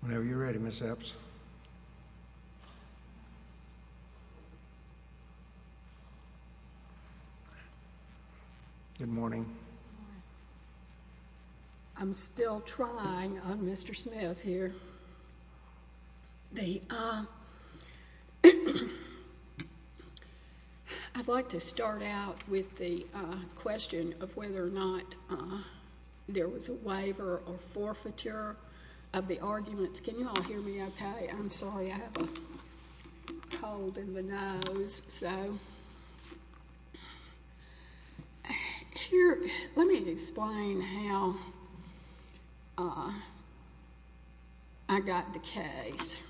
Whenever you're ready, Ms. Epps. Good morning. I'm still trying, I'm Mr. Smith here. I'd like to start out with the question of whether or not there was a waiver or forfeiture of the arguments. Ms. Epps, can you all hear me okay? I'm sorry. I have a cold in the nose, so here, let me explain how I got the case.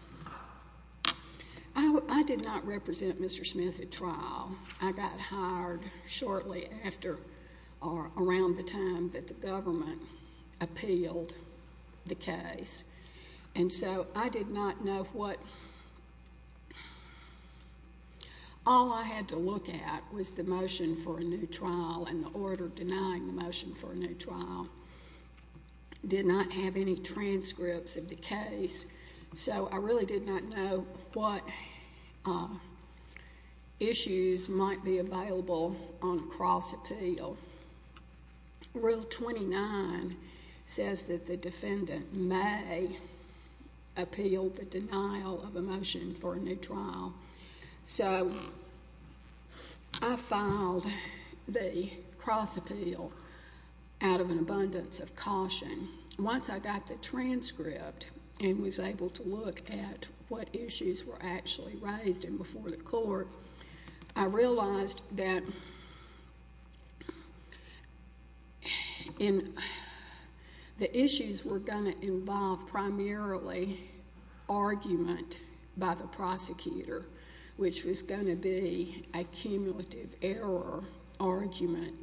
I did not represent Mr. Smith at trial. I got hired shortly after or around the time that the government appealed the case, and so I did not know what... all I had to look at was the motion for a new trial and the order denying the motion for a new trial did not have any transcripts of the case, so I really did not know what issues might be available on a cross-appeal. Rule 29 says that the defendant may appeal the denial of a motion for a new trial. So I filed the cross-appeal out of an abundance of caution. Once I got the transcript and was able to look at what issues were actually raised and before the court, I realized that the issues were going to involve primarily argument by the prosecutor, which was going to be a cumulative error argument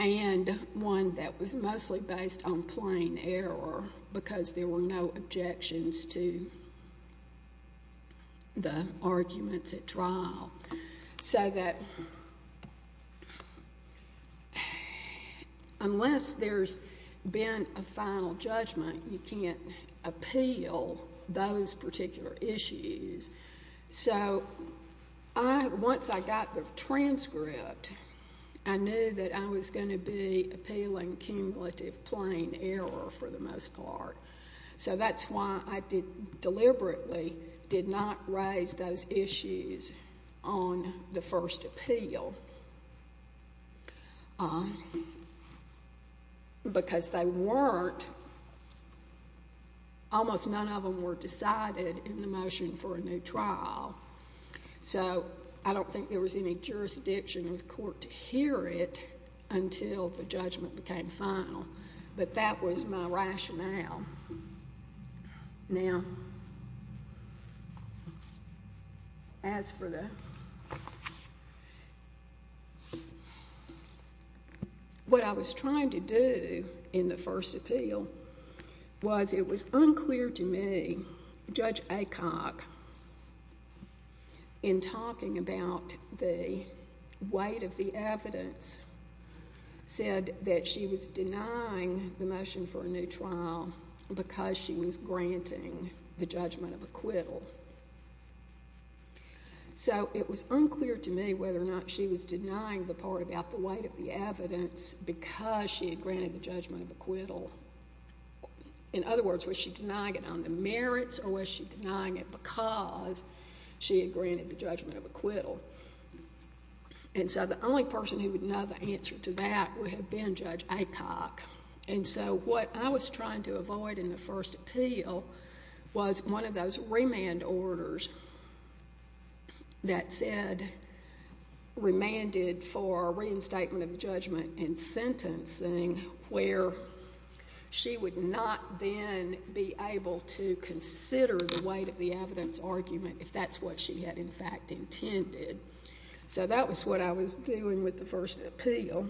and one that was mostly based on plain error because there were no objections to the arguments at trial, so that unless there's been a final judgment, you can't appeal those particular issues. So once I got the transcript, I knew that I was going to be appealing cumulative plain error for the most part, so that's why I deliberately did not raise those issues on the first appeal because they weren't, almost none of them were decided in the motion for a new trial. So I don't think there was any jurisdiction in the court to hear it until the judgment became final, but that was my rationale. Now, as for the—what I was trying to do in the first appeal was it was unclear to me, Judge Acock, in talking about the weight of the evidence, said that she was denying the motion for a new trial because she was granting the judgment of acquittal. So it was unclear to me whether or not she was denying the part about the weight of the evidence because she had granted the judgment of acquittal. In other words, was she denying it on the merits or was she denying it because she had granted the judgment of acquittal? And so the only person who would know the answer to that would have been Judge Acock. And so what I was trying to avoid in the first appeal was one of those remand orders that said, remanded for reinstatement of judgment and sentencing, where she would not then be able to consider the weight of the evidence argument if that's what she had in fact intended. So that was what I was doing with the first appeal.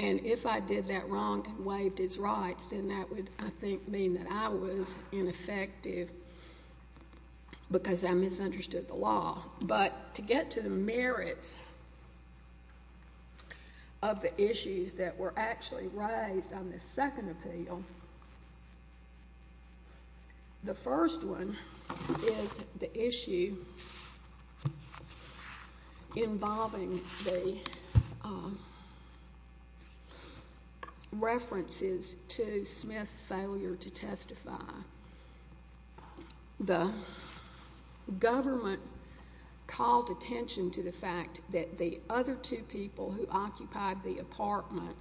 And if I did that wrong and waived his rights, then that would, I think, mean that I was ineffective because I misunderstood the law. But to get to the merits of the issues that were actually raised on the second appeal, the first one is the issue involving the references to Smith's failure to testify. The government called attention to the fact that the other two people who occupied the apartment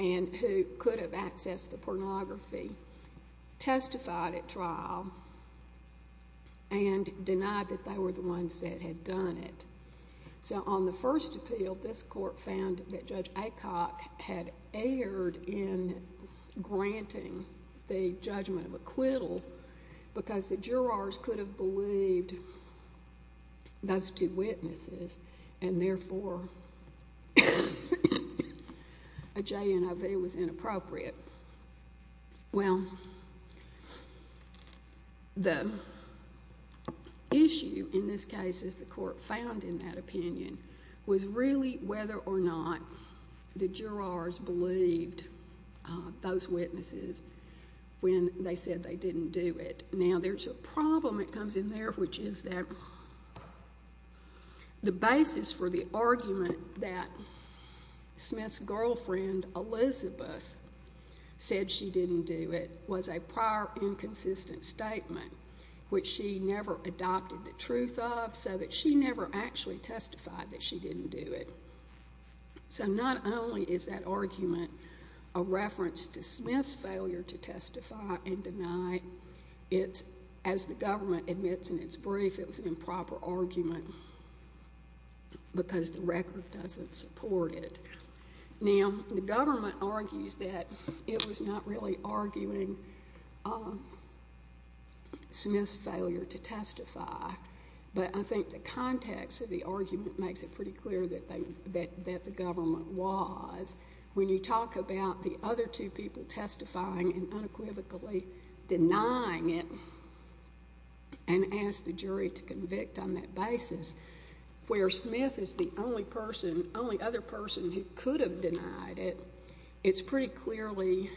and who could have accessed the pornography testified at trial and denied that they were the ones that had done it. So on the first appeal, this court found that Judge Acock had erred in granting the judgment of acquittal because the jurors could have believed those two witnesses and therefore a J&OV was inappropriate. Well, the issue in this case, as the court found in that opinion, was really whether or not the jurors believed those witnesses when they said they didn't do it. Now, there's a problem that comes in there, which is that the basis for the argument that said she didn't do it was a prior inconsistent statement, which she never adopted the truth of so that she never actually testified that she didn't do it. So not only is that argument a reference to Smith's failure to testify and deny it, as the government admits in its brief, it was an improper argument because the record doesn't support it. Now, the government argues that it was not really arguing Smith's failure to testify, but I think the context of the argument makes it pretty clear that the government was. When you talk about the other two people testifying and unequivocally denying it and ask the jury to convict on that basis, where Smith is the only other person who could have denied it, it's pretty clearly,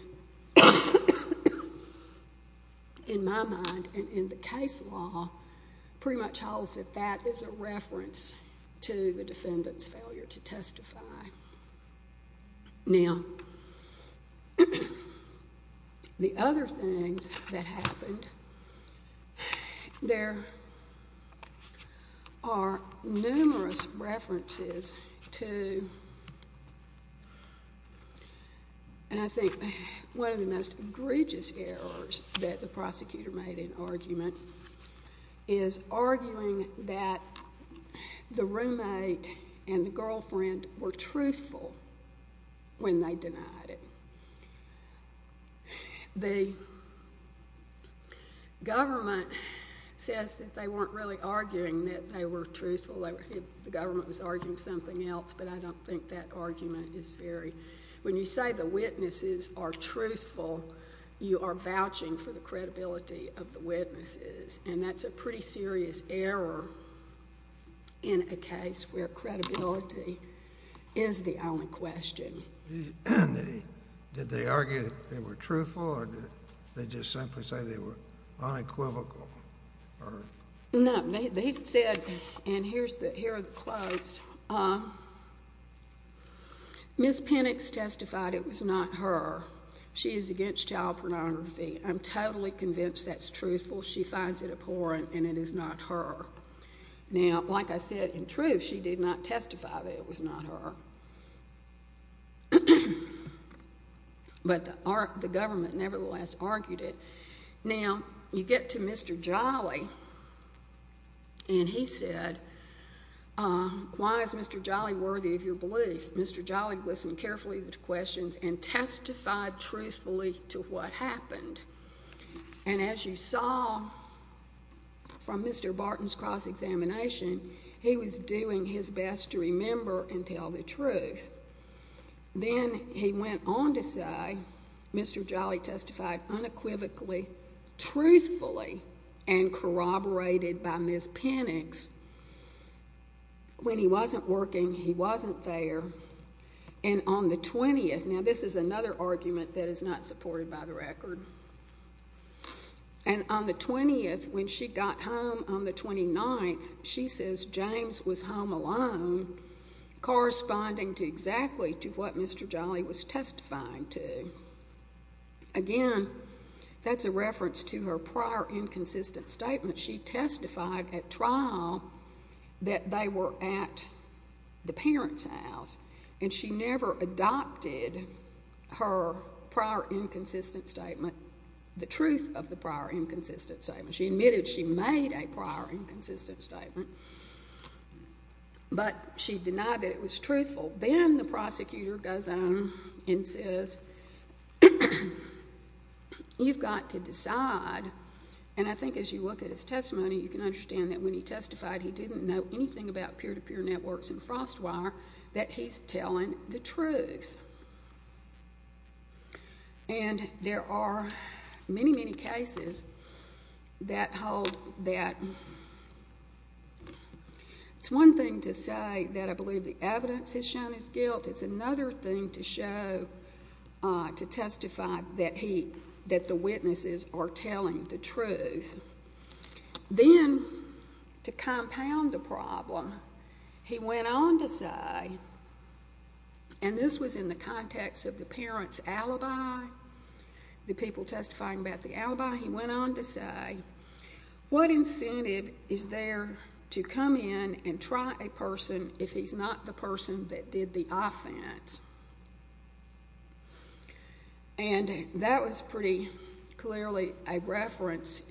in my mind and in the case law, pretty much holds that that is a reference to the defendant's failure to testify. Now, the other things that happened, there are numerous references to, and I think one of the most egregious errors that the prosecutor made in argument is arguing that the roommate and the girlfriend were truthful when they denied it. The government says that they weren't really arguing that they were truthful, the government was arguing something else, but I don't think that argument is very—when you say the witnesses are truthful, you are vouching for the credibility of the witnesses, and that's a pretty serious error in a case where credibility is the only question. Did they argue that they were truthful, or did they just simply say they were unequivocal? No, they said, and here are the quotes, Ms. Pennix testified it was not her. She is against child pornography. I'm totally convinced that's truthful. She finds it abhorrent, and it is not her. Now, like I said, in truth, she did not testify that it was not her, but the government nevertheless argued it. Now, you get to Mr. Jolly, and he said, why is Mr. Jolly worthy of your belief? Mr. Jolly listened carefully to questions and testified truthfully to what happened, and as you saw from Mr. Barton's cross-examination, he was doing his best to remember and tell the truth. Then he went on to say Mr. Jolly testified unequivocally, truthfully, and corroborated by Ms. Pennix. When he wasn't working, he wasn't there, and on the 20th, now, this is another argument that is not supported by the record, and on the 20th, when she got home on the 29th, she says James was home alone, corresponding to exactly to what Mr. Jolly was testifying to. Again, that's a reference to her prior inconsistent statement. She testified at trial that they were at the parents' house, and she never adopted her prior inconsistent statement, the truth of the prior inconsistent statement. She admitted she made a prior inconsistent statement, but she denied that it was truthful. Then the prosecutor goes on and says, you've got to decide, and I think as you look at his testimony, you can understand that when he testified, he didn't know anything about peer-to-peer networks and Frostwire, that he's telling the truth. And there are many, many cases that hold that. It's one thing to say that I believe the evidence has shown his guilt. It's another thing to show, to testify that he, that the witnesses are telling the truth. Then, to compound the problem, he went on to say, and this was in the context of the parents' alibi, the people testifying about the alibi, he went on to say, what incentive is there to come in and try a person if he's not the person that did the offense? And that was pretty clearly a reference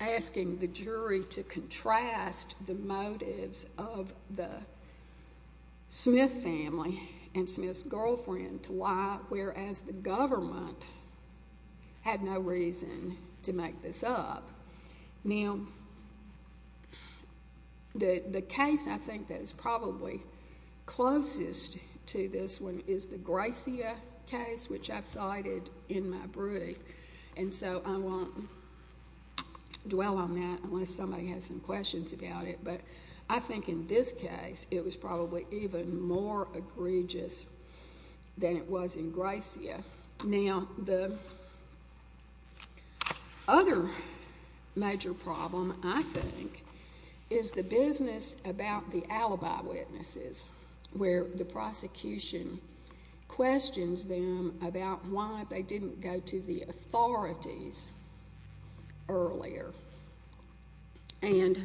asking the jury to contrast the motives of the Smith family and Smith's girlfriend to lie, whereas the government had no reason to make this up. Now, the case I think that is probably closest to this one is the Gracia case, which I've cited in my brief, and so I won't dwell on that unless somebody has some questions about it, but I think in this case, it was probably even more egregious than it was in Gracia. Now, the other major problem, I think, is the business about the alibi witnesses, where the prosecution questions them about why they didn't go to the authorities earlier. And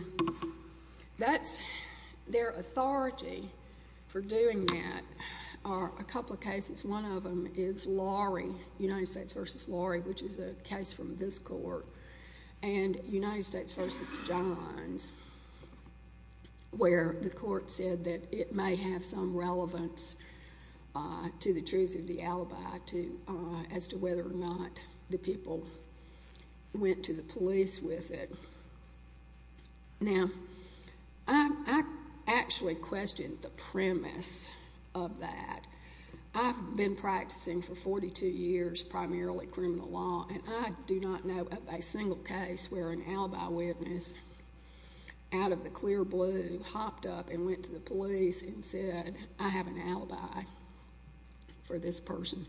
their authority for doing that are a couple of cases. One of them is Lorry, United States v. Lorry, which is a case from this court, and United States v. Johns, where the court said that it may have some relevance to the truth of Now, I actually question the premise of that. I've been practicing for 42 years, primarily criminal law, and I do not know of a single case where an alibi witness, out of the clear blue, hopped up and went to the police and said, I have an alibi for this person.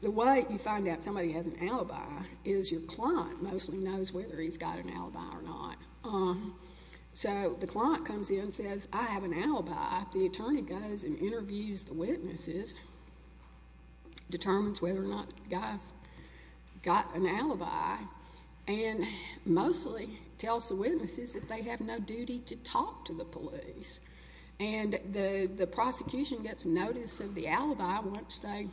The way you find out somebody has an alibi is your client mostly knows whether he's got an alibi or not. So the client comes in and says, I have an alibi. The attorney goes and interviews the witnesses, determines whether or not the guy's got an alibi, and mostly tells the witnesses that they have no duty to talk to the police. And the prosecution gets notice of the alibi once they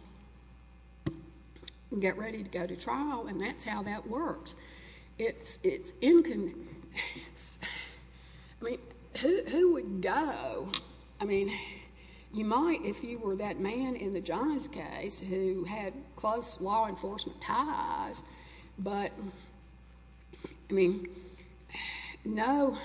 get ready to go to trial, and that's how that works. It's inconvenient. I mean, who would go? I mean, you might if you were that man in the Johns case who had close law enforcement ties, but, I mean, no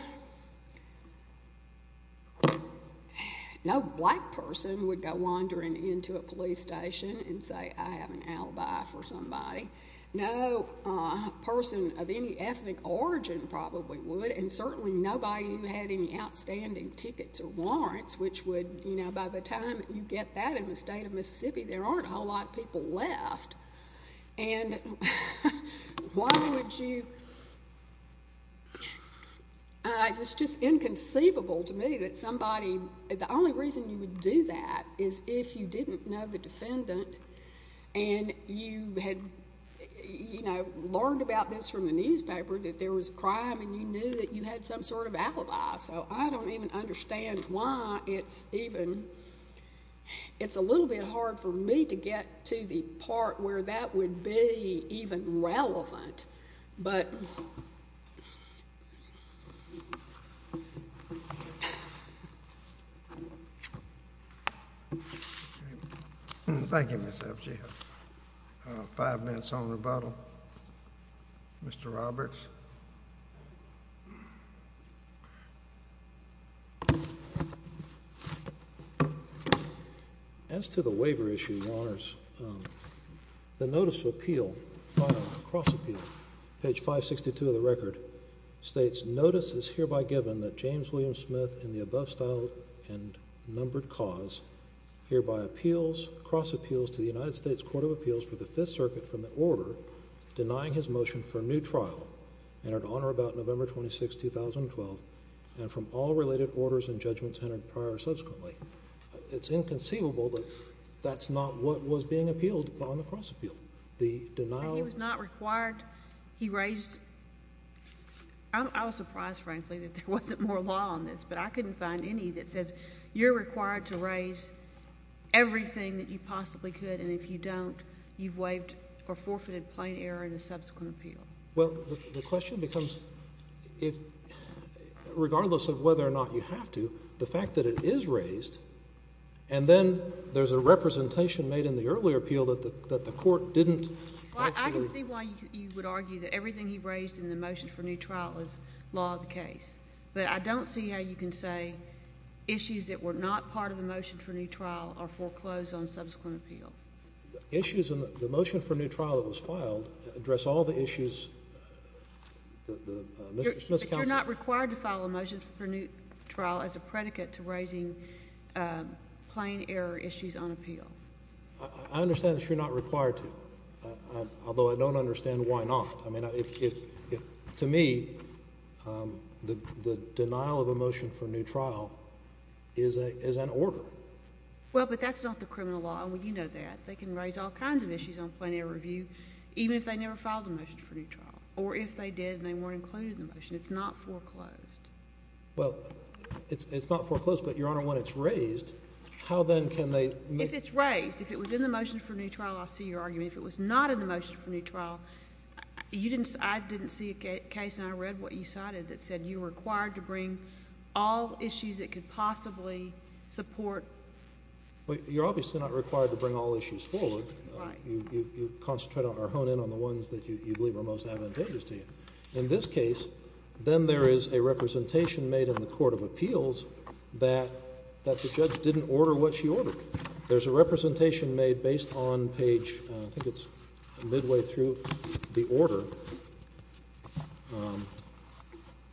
black person would go wandering into a police station and say, I have an alibi for somebody. No person of any ethnic origin probably would, and certainly nobody who had any outstanding tickets or warrants, which would, you know, by the time you get that in the state of Mississippi, there aren't a whole lot of people left. And why would you—it's just inconceivable to me that somebody—the only reason you would do that is if you didn't know the defendant and you had, you know, learned about this from the newspaper that there was a crime and you knew that you had some sort of alibi. So I don't even understand why it's even—it's a little bit hard for me to get to the part where that would be even relevant. But— Thank you, Ms. F. Sheehan. Five minutes on rebuttal. Mr. Roberts. As to the waiver issue, Your Honors, the Notice of Appeal—Cross-Appeal, page 562 of the record—states, Notice is hereby given that James William Smith, in the above style and numbered cause, hereby appeals—cross-appeals to the United States Court of Appeals for the Fifth Circuit for the order denying his motion for a new trial. And in honor about November 26, 2012, and from all related orders and judgments entered prior or subsequently, it's inconceivable that that's not what was being appealed on the cross-appeal. The denial— But he was not required—he raised—I was surprised, frankly, that there wasn't more law on this, but I couldn't find any that says you're required to raise everything that you possibly could, and if you don't, you've waived or forfeited plain error in a subsequent appeal. Well, the question becomes, regardless of whether or not you have to, the fact that it is raised, and then there's a representation made in the earlier appeal that the Court didn't actually— Well, I can see why you would argue that everything he raised in the motion for a new trial is law of the case, but I don't see how you can say issues that were not part of the motion for a new trial are foreclosed on subsequent appeal. Issues in the motion for a new trial that was filed address all the issues— But you're not required to file a motion for a new trial as a predicate to raising plain error issues on appeal. I understand that you're not required to, although I don't understand why not. I mean, to me, the denial of a motion for a new trial is an order. Well, but that's not the criminal law, and you know that. They can raise all kinds of issues on plain error review, even if they never filed a motion for a new trial, or if they did and they weren't included in the motion. It's not foreclosed. Well, it's not foreclosed, but, Your Honor, when it's raised, how then can they— If it's raised, if it was in the motion for a new trial, I see your argument. If it was not in the motion for a new trial, I didn't see a case, and I read what you said. You're obviously not required to bring all issues forward. Right. You concentrate or hone in on the ones that you believe are most advantageous to you. In this case, then there is a representation made in the Court of Appeals that the judge didn't order what she ordered. There's a representation made based on page—I think it's midway through—the order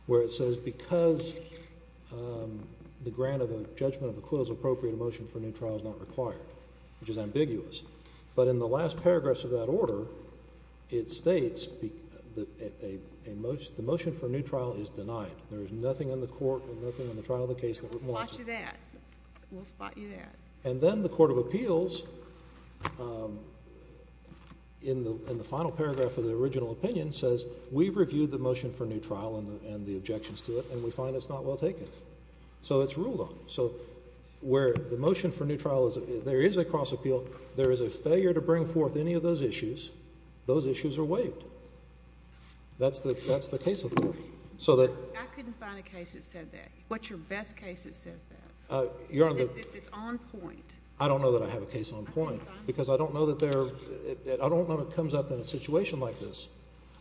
where it says, because the grant of a judgment of acquittal is appropriate, a motion for a new trial is not required, which is ambiguous. But in the last paragraphs of that order, it states the motion for a new trial is denied. There is nothing in the court and nothing in the trial of the case that requires it. We'll spot you there. We'll spot you there. And then the Court of Appeals, in the final paragraph of the original opinion, says we've reviewed the motion for a new trial and the objections to it, and we find it's not well taken. So it's ruled on. So where the motion for a new trial is—there is a cross-appeal. There is a failure to bring forth any of those issues. Those issues are waived. That's the case of the Court. I couldn't find a case that said that. What's your best case that says that? It's on point. I don't know that I have a case on point. Because I don't know that there—I don't know that it comes up in a situation like this.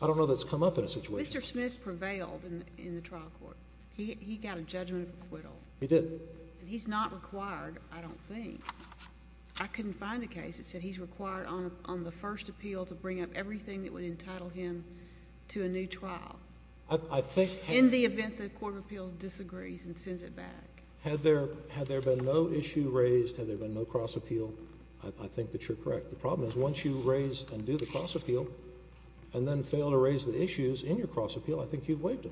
I don't know that it's come up in a situation like this. Mr. Smith prevailed in the trial court. He got a judgment of acquittal. He did. He's not required, I don't think. I couldn't find a case that said he's required on the first appeal to bring up everything that would entitle him to a new trial, in the event the Court of Appeals disagrees and sends it back. Had there been no issue raised, had there been no cross-appeal, I think that you're correct. The problem is, once you raise and do the cross-appeal and then fail to raise the issues in your cross-appeal, I think you've waived it.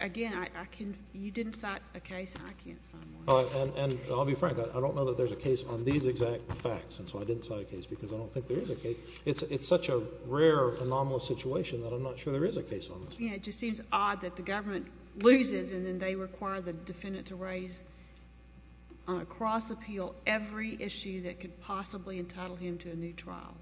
Again, I can—you didn't cite a case. I can't find one. And I'll be frank. I don't know that there's a case on these exact facts, and so I didn't cite a case because I don't think there is a case. It's such a rare, anomalous situation that I'm not sure there is a case on this. It just seems odd that the government loses and then they require the defendant to raise on a cross-appeal every issue that could possibly entitle him to a new trial.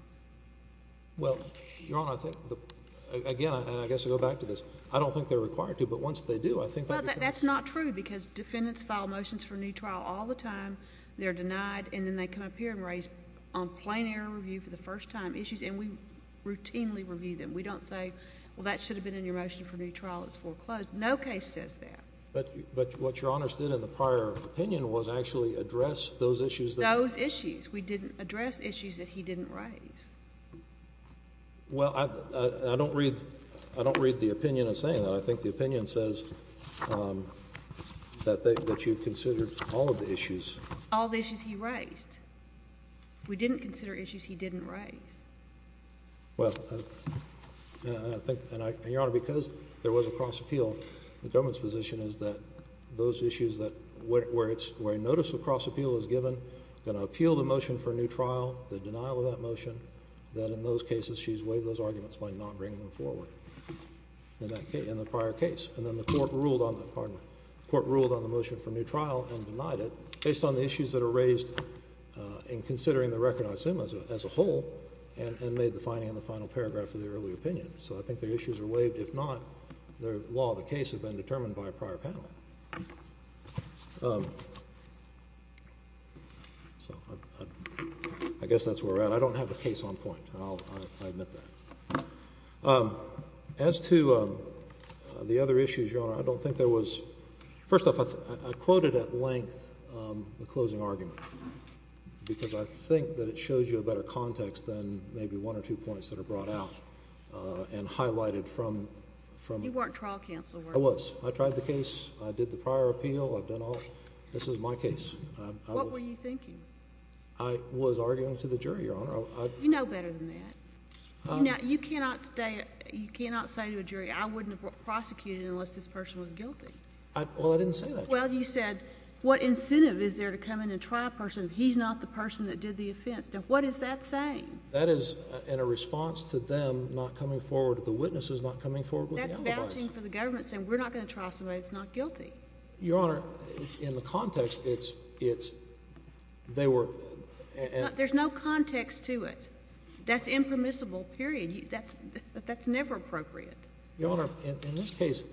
Well, Your Honor, I think—again, and I guess I'll go back to this. I don't think they're required to, but once they do, I think that becomes— That's not true because defendants file motions for a new trial all the time. They're denied, and then they come up here and raise on plain error review for the first time issues, and we routinely review them. We don't say, well, that should have been in your motion for a new trial. It's foreclosed. No case says that. But what Your Honor did in the prior opinion was actually address those issues that— Those issues. We didn't address issues that he didn't raise. Well, I don't read the opinion in saying that. I think the opinion says that you considered all of the issues. All the issues he raised. We didn't consider issues he didn't raise. Well, I think—and Your Honor, because there was a cross-appeal, the government's position is that those issues that—where notice of cross-appeal is given, going to appeal the motion for a new trial, the denial of that motion, that in those cases she's waived those arguments by not bringing them forward in that case—in the prior case. And then the Court ruled on the—pardon me—Court ruled on the motion for a new trial and denied it based on the issues that are raised in considering the record, I assume, as a whole and made the finding in the final paragraph of the earlier opinion. So I think the issues are waived. If not, the law of the case has been determined by a prior panel. So I guess that's where we're at. I don't have a case on point. I'll admit that. As to the other issues, Your Honor, I don't think there was—first off, I quoted at length the closing argument, because I think that it shows you a better context than maybe one or two points that are brought out and highlighted from— You weren't trial counselor. I was. I tried the case. I did the prior appeal. I've done all—this is my case. What were you thinking? I was arguing to the jury, Your Honor. You know better than that. You cannot say to a jury, I wouldn't have prosecuted unless this person was guilty. Well, I didn't say that. Well, you said, what incentive is there to come in and try a person if he's not the person that did the offense? Now, what is that saying? That is in a response to them not coming forward, the witnesses not coming forward with the alibis. That's vouching for the government saying, we're not going to try somebody that's not guilty. Your Honor, in the context, it's—they were— There's no context to it. That's impermissible, period. That's never appropriate. Your Honor, in this case,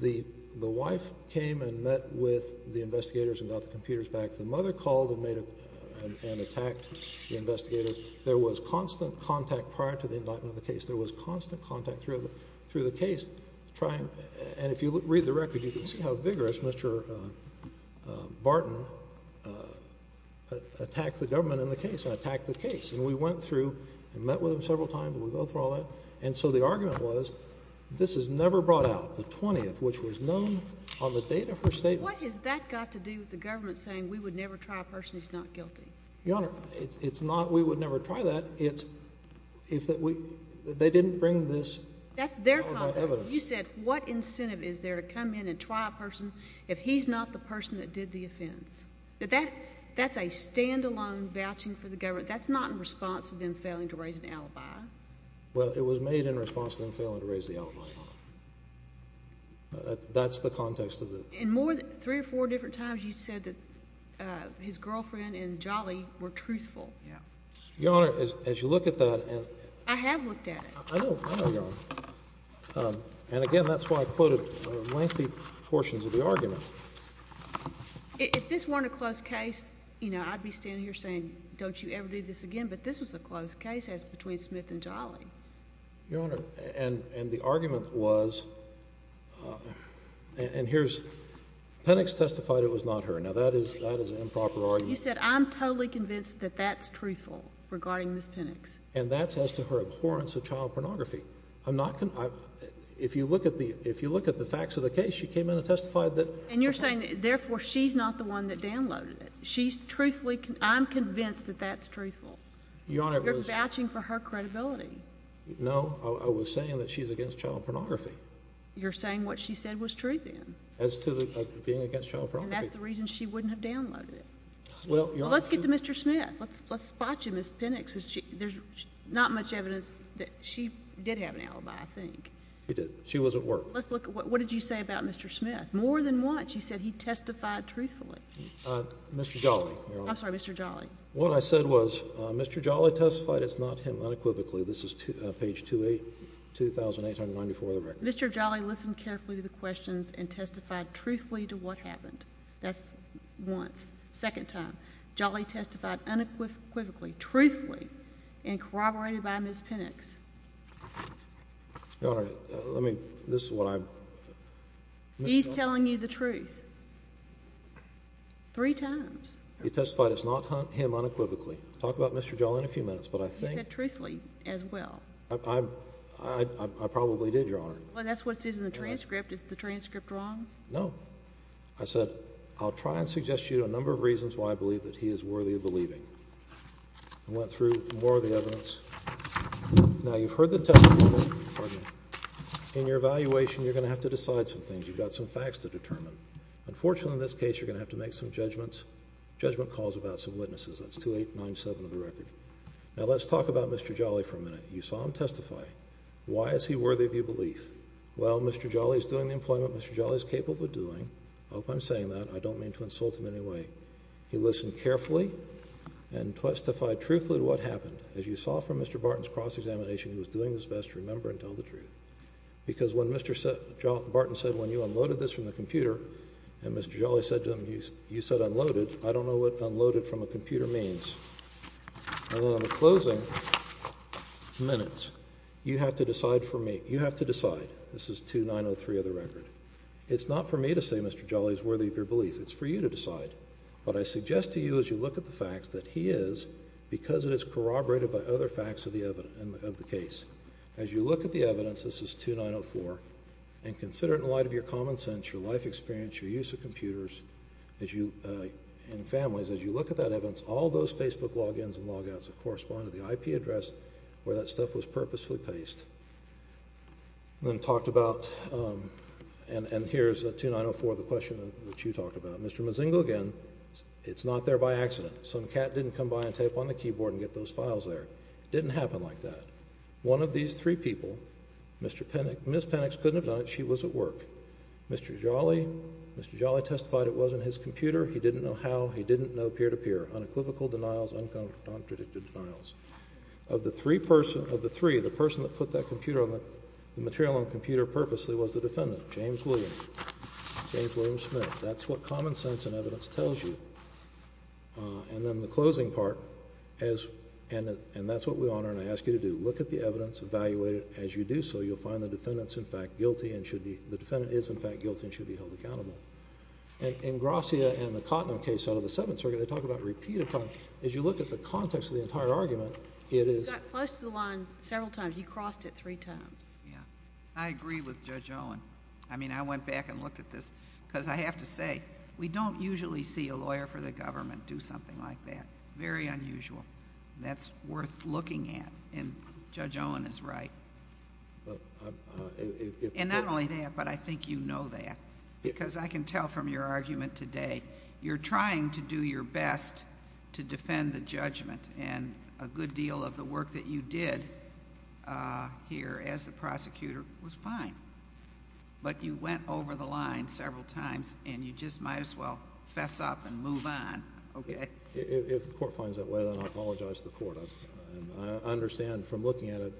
the wife came and met with the investigators and got the computers back. The mother called and made a—and attacked the investigator. There was constant contact prior to the indictment of the case. There was constant contact through the case trying—and if you read the record, you can see how vigorous Mr. Barton attacked the government in the case and attacked the case. And we went through and met with him several times. We went through all that. And so the argument was, this is never brought out, the 20th, which was known on the date of her statement. What has that got to do with the government saying, we would never try a person that's not guilty? Your Honor, it's not we would never try that. It's—they didn't bring this alibi evidence. That's their conduct. You said, what incentive is there to come in and try a person if he's not the person that did the offense? That's a standalone vouching for the government. That's not in response to them failing to raise an alibi. Well, it was made in response to them failing to raise the alibi, Your Honor. That's the context of it. In more than three or four different times, you said that his girlfriend and Jolly were truthful. Yeah. Your Honor, as you look at that and— I have looked at it. I know. I know, Your Honor. And again, that's why I quoted lengthy portions of the argument. If this weren't a closed case, you know, I'd be standing here saying, don't you ever do this again. But this was a closed case as between Smith and Jolly. Your Honor, and the argument was—and here's—Pennex testified it was not her. Now, that is an improper argument. You said, I'm totally convinced that that's truthful regarding Ms. Pennex. And that's as to her abhorrence of child pornography. I'm not—if you look at the facts of the case, she came in and testified that— And you're saying, therefore, she's not the one that downloaded it. She's truthfully—I'm convinced that that's truthful. Your Honor, it was— You're vouching for her credibility. No, I was saying that she's against child pornography. You're saying what she said was true, then? As to being against child pornography. And that's the reason she wouldn't have downloaded it. Well, Your Honor— Let's get to Mr. Smith. Let's spot you, Ms. Pennex. There's not much evidence that she did have an alibi, I think. She did. She was at work. Let's look at—what did you say about Mr. Smith? More than once, you said he testified truthfully. Mr. Jolly, Your Honor. I'm sorry, Mr. Jolly. What I said was, Mr. Jolly testified it's not him unequivocally. This is page 2,894 of the record. Mr. Jolly listened carefully to the questions and testified truthfully to what happened. That's once. Second time. Jolly testified unequivocally, truthfully, and corroborated by Ms. Pennex. Your Honor, let me—this is what I— He's telling you the truth. Three times. He testified it's not him unequivocally. Talk about Mr. Jolly in a few minutes, but I think— He said truthfully as well. I probably did, Your Honor. Well, that's what it says in the transcript. Is the transcript wrong? No. I said, I'll try and suggest to you a number of reasons why I believe that he is worthy of believing. I went through more of the evidence. Now, you've heard the testimony before, pardon me. In your evaluation, you're going to have to decide some things. Unfortunately, in this case, you're going to have to make some judgments. Judgment calls about some witnesses. That's 2897 of the record. Now, let's talk about Mr. Jolly for a minute. You saw him testify. Why is he worthy of your belief? Well, Mr. Jolly is doing the employment Mr. Jolly is capable of doing. I hope I'm saying that. I don't mean to insult him in any way. He listened carefully and testified truthfully to what happened. As you saw from Mr. Barton's cross-examination, he was doing his best to remember and tell the truth. Because when Mr. Barton said, when you unloaded this from the computer, and Mr. Jolly said to him, you said unloaded. I don't know what unloaded from a computer means. And then in the closing minutes, you have to decide for me. You have to decide. This is 2903 of the record. It's not for me to say Mr. Jolly is worthy of your belief. It's for you to decide. But I suggest to you, as you look at the facts, that he is, because it is corroborated by other facts of the case. As you look at the evidence, this is 2904, and consider it in light of your common sense, your life experience, your use of computers, and families. As you look at that evidence, all those Facebook logins and logouts that correspond to the IP address where that stuff was purposefully pasted. And then talked about, and here's 2904, the question that you talked about. Mr. Mozingo again, it's not there by accident. Some cat didn't come by and tape on the keyboard and get those files there. Didn't happen like that. One of these three people, Ms. Penix couldn't have done it. She was at work. Mr. Jolly testified it wasn't his computer. He didn't know how. He didn't know peer-to-peer. Unequivocal denials. Uncontradicted denials. Of the three, the person that put that computer, the material on the computer, purposely was the defendant, James Williams, James William Smith. That's what common sense and evidence tells you. And then the closing part, and that's what we honor and I ask you to do. Look at the evidence, evaluate it as you do so. You'll find the defendant's in fact guilty and should be... The defendant is in fact guilty and should be held accountable. And in Gracia and the Cottner case out of the Seventh Circuit, they talk about repeated time. As you look at the context of the entire argument, it is... He got flushed the line several times. He crossed it three times. Yeah. I agree with Judge Owen. I mean, I went back and looked at this because I have to say, we don't usually see a lawyer for the government do something like that. Very unusual. That's worth looking at. And Judge Owen is right. And not only that, but I think you know that. Because I can tell from your argument today, you're trying to do your best to defend the judgment. And a good deal of the work that you did here as the prosecutor was fine. But you went over the line several times, and you just might as well fess up and move on, okay? If the Court finds that way, then I apologize to the Court. I understand from looking at it.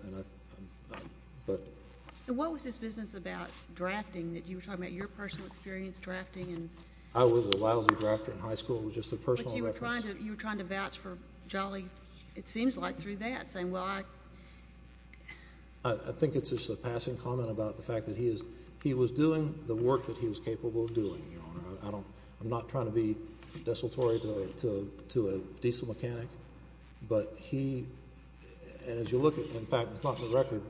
And what was this business about drafting, that you were talking about your personal experience drafting and... I was a lousy drafter in high school. It was just a personal reference. You were trying to vouch for Jolly, it seems like, through that, saying, well, I... I think it's just a passing comment about the fact that he was doing the work that he was capable of doing, Your Honor. I'm not trying to be desultory to a diesel mechanic. But he... And as you look at... In fact, it's not in the record.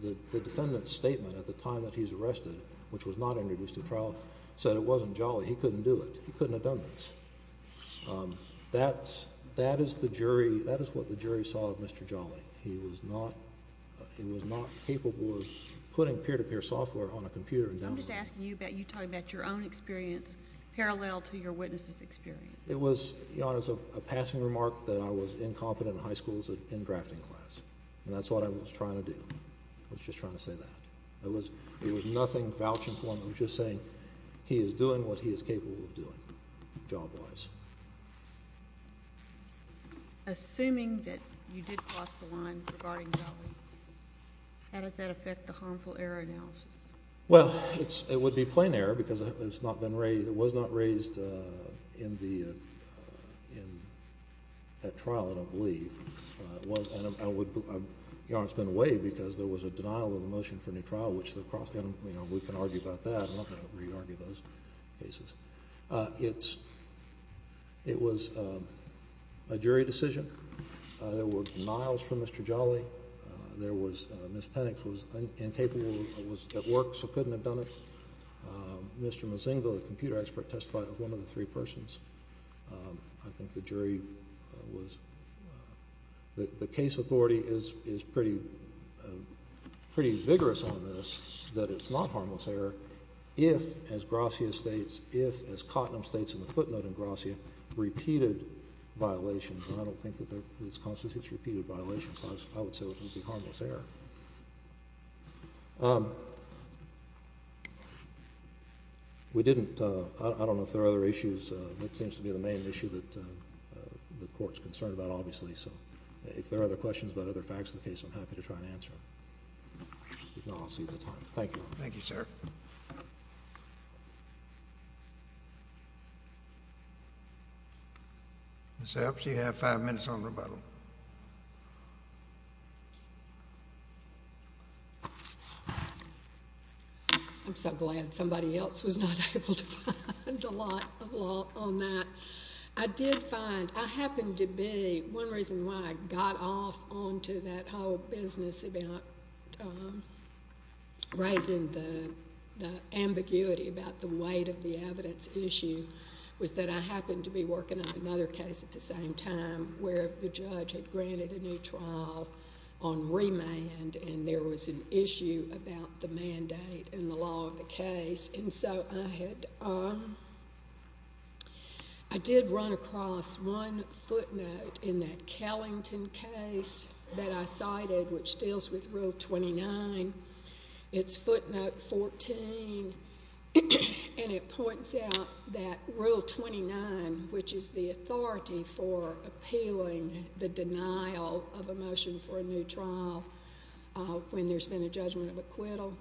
The defendant's statement at the time that he was arrested, which was not introduced at trial, said it wasn't Jolly. He couldn't do it. He couldn't have done this. That is the jury... That is what the jury saw of Mr. Jolly. He was not... He was not capable of putting peer-to-peer software on a computer. I'm just asking you about... You're talking about your own experience, parallel to your witness's experience. It was, Your Honor, a passing remark that I was incompetent in high school as an in-drafting class. And that's what I was trying to do. I was just trying to say that. It was nothing vouching for him. I was just saying he is doing what he is capable of doing, job-wise. Assuming that you did cross the line regarding Jolly, how does that affect the harmful error analysis? Well, it would be plain error because it's not been raised... It was not raised at trial, I don't believe. Your Honor, it's been a way because there was a denial of the motion for a new trial, which the cross... We can argue about that. I'm not going to re-argue those cases. It was a jury decision. There were denials from Mr. Jolly. There was... Ms. Pennix was incapable, was at work, so couldn't have done it. Mr. Mozingo, the computer expert, testified of one of the three persons. I think the jury was... The case authority is pretty vigorous on this, that it's not harmless error if, as Gracia states, if, as Cottnam states in the footnote in Gracia, repeated violations. And I don't think that this constitutes repeated violations. I would say it would be harmless error. We didn't... I don't know if there are other issues. That seems to be the main issue that the Court's concerned about, obviously. So if there are other questions about other facts of the case, I'm happy to try and answer them. If not, I'll see you at the time. Thank you, Your Honor. Thank you, sir. Ms. Epps, you have five minutes on rebuttal. I'm so glad somebody else was not able to find a lot on that. I did find... I happened to be... One reason why I got off onto that whole business about raising the ambiguity about the weight of the evidence issue was that I happened to be working on another case at the same time where the judge had granted a new trial on remand, and there was an issue about the mandate and the law of the case. And so I had... I did run across one footnote in that Kellington case that I cited, which deals with Rule 29. It's footnote 14, and it points out that Rule 29, which is the authority for appealing the denial of a motion for a new trial when there's been a judgment of acquittal,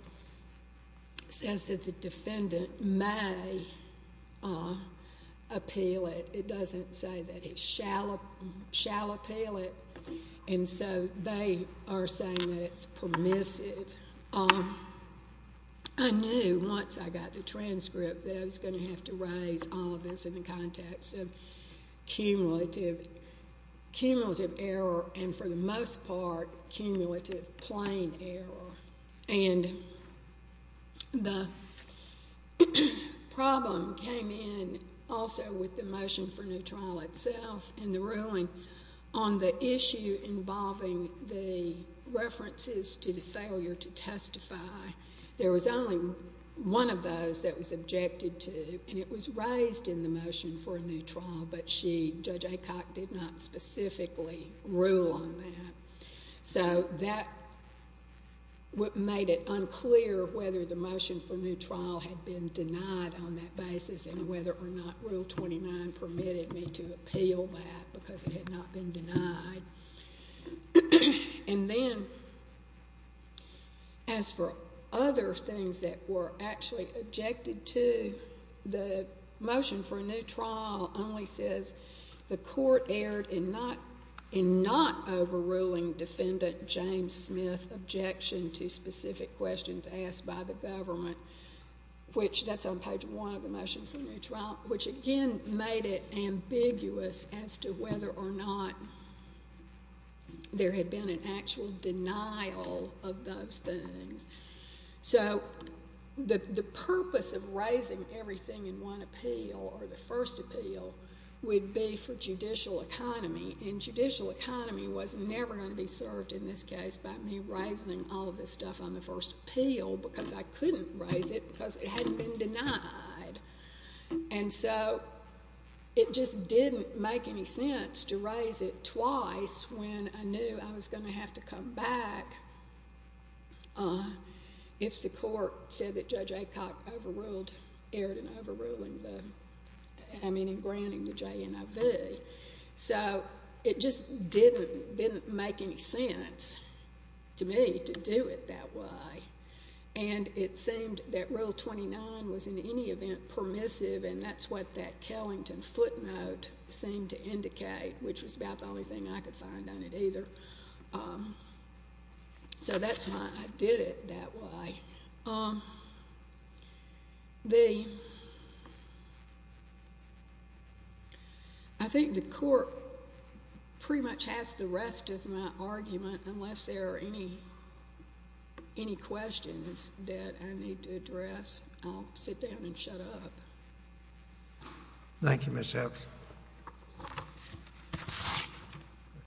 says that the defendant may appeal it. It doesn't say that he shall appeal it, and so they are saying that it's permissive. I knew once I got the transcript that I was going to have to raise all of this in the context of cumulative error, and for the most part, cumulative plain error. And the problem came in also with the motion for a new trial itself and the ruling on the issue involving the references to the failure to testify. There was only one of those that was objected to, and it was raised in the motion for a new trial, but Judge Acock did not specifically rule on that. So that made it unclear whether the motion for a new trial had been denied on that basis and whether or not Rule 29 permitted me to appeal that because it had not been denied. And then, as for other things that were actually objected to, the motion for a new trial only says, the court erred in not overruling defendant James Smith's objection to specific questions asked by the government, which that's on page one of the motion for a new trial, which again made it ambiguous as to whether or not there had been an actual denial of those things. So the purpose of raising everything in one appeal or the first appeal would be for judicial economy, and judicial economy was never going to be served in this case by me raising all of this stuff on the first appeal because I couldn't raise it because it hadn't been denied. And so it just didn't make any sense to raise it twice when I knew I was going to have to come back if the court said that Judge Acock overruled, erred in overruling the, I mean, in granting the JNIV. So it just didn't make any sense to me to do it that way. And it seemed that Rule 29 was in any event permissive and that's what that Kellington footnote seemed to indicate, which was about the only thing I could find on it either. So that's why I did it that way. I think the court pretty much has the rest of my argument unless there are any questions that I need to address, I'll sit down and shut up.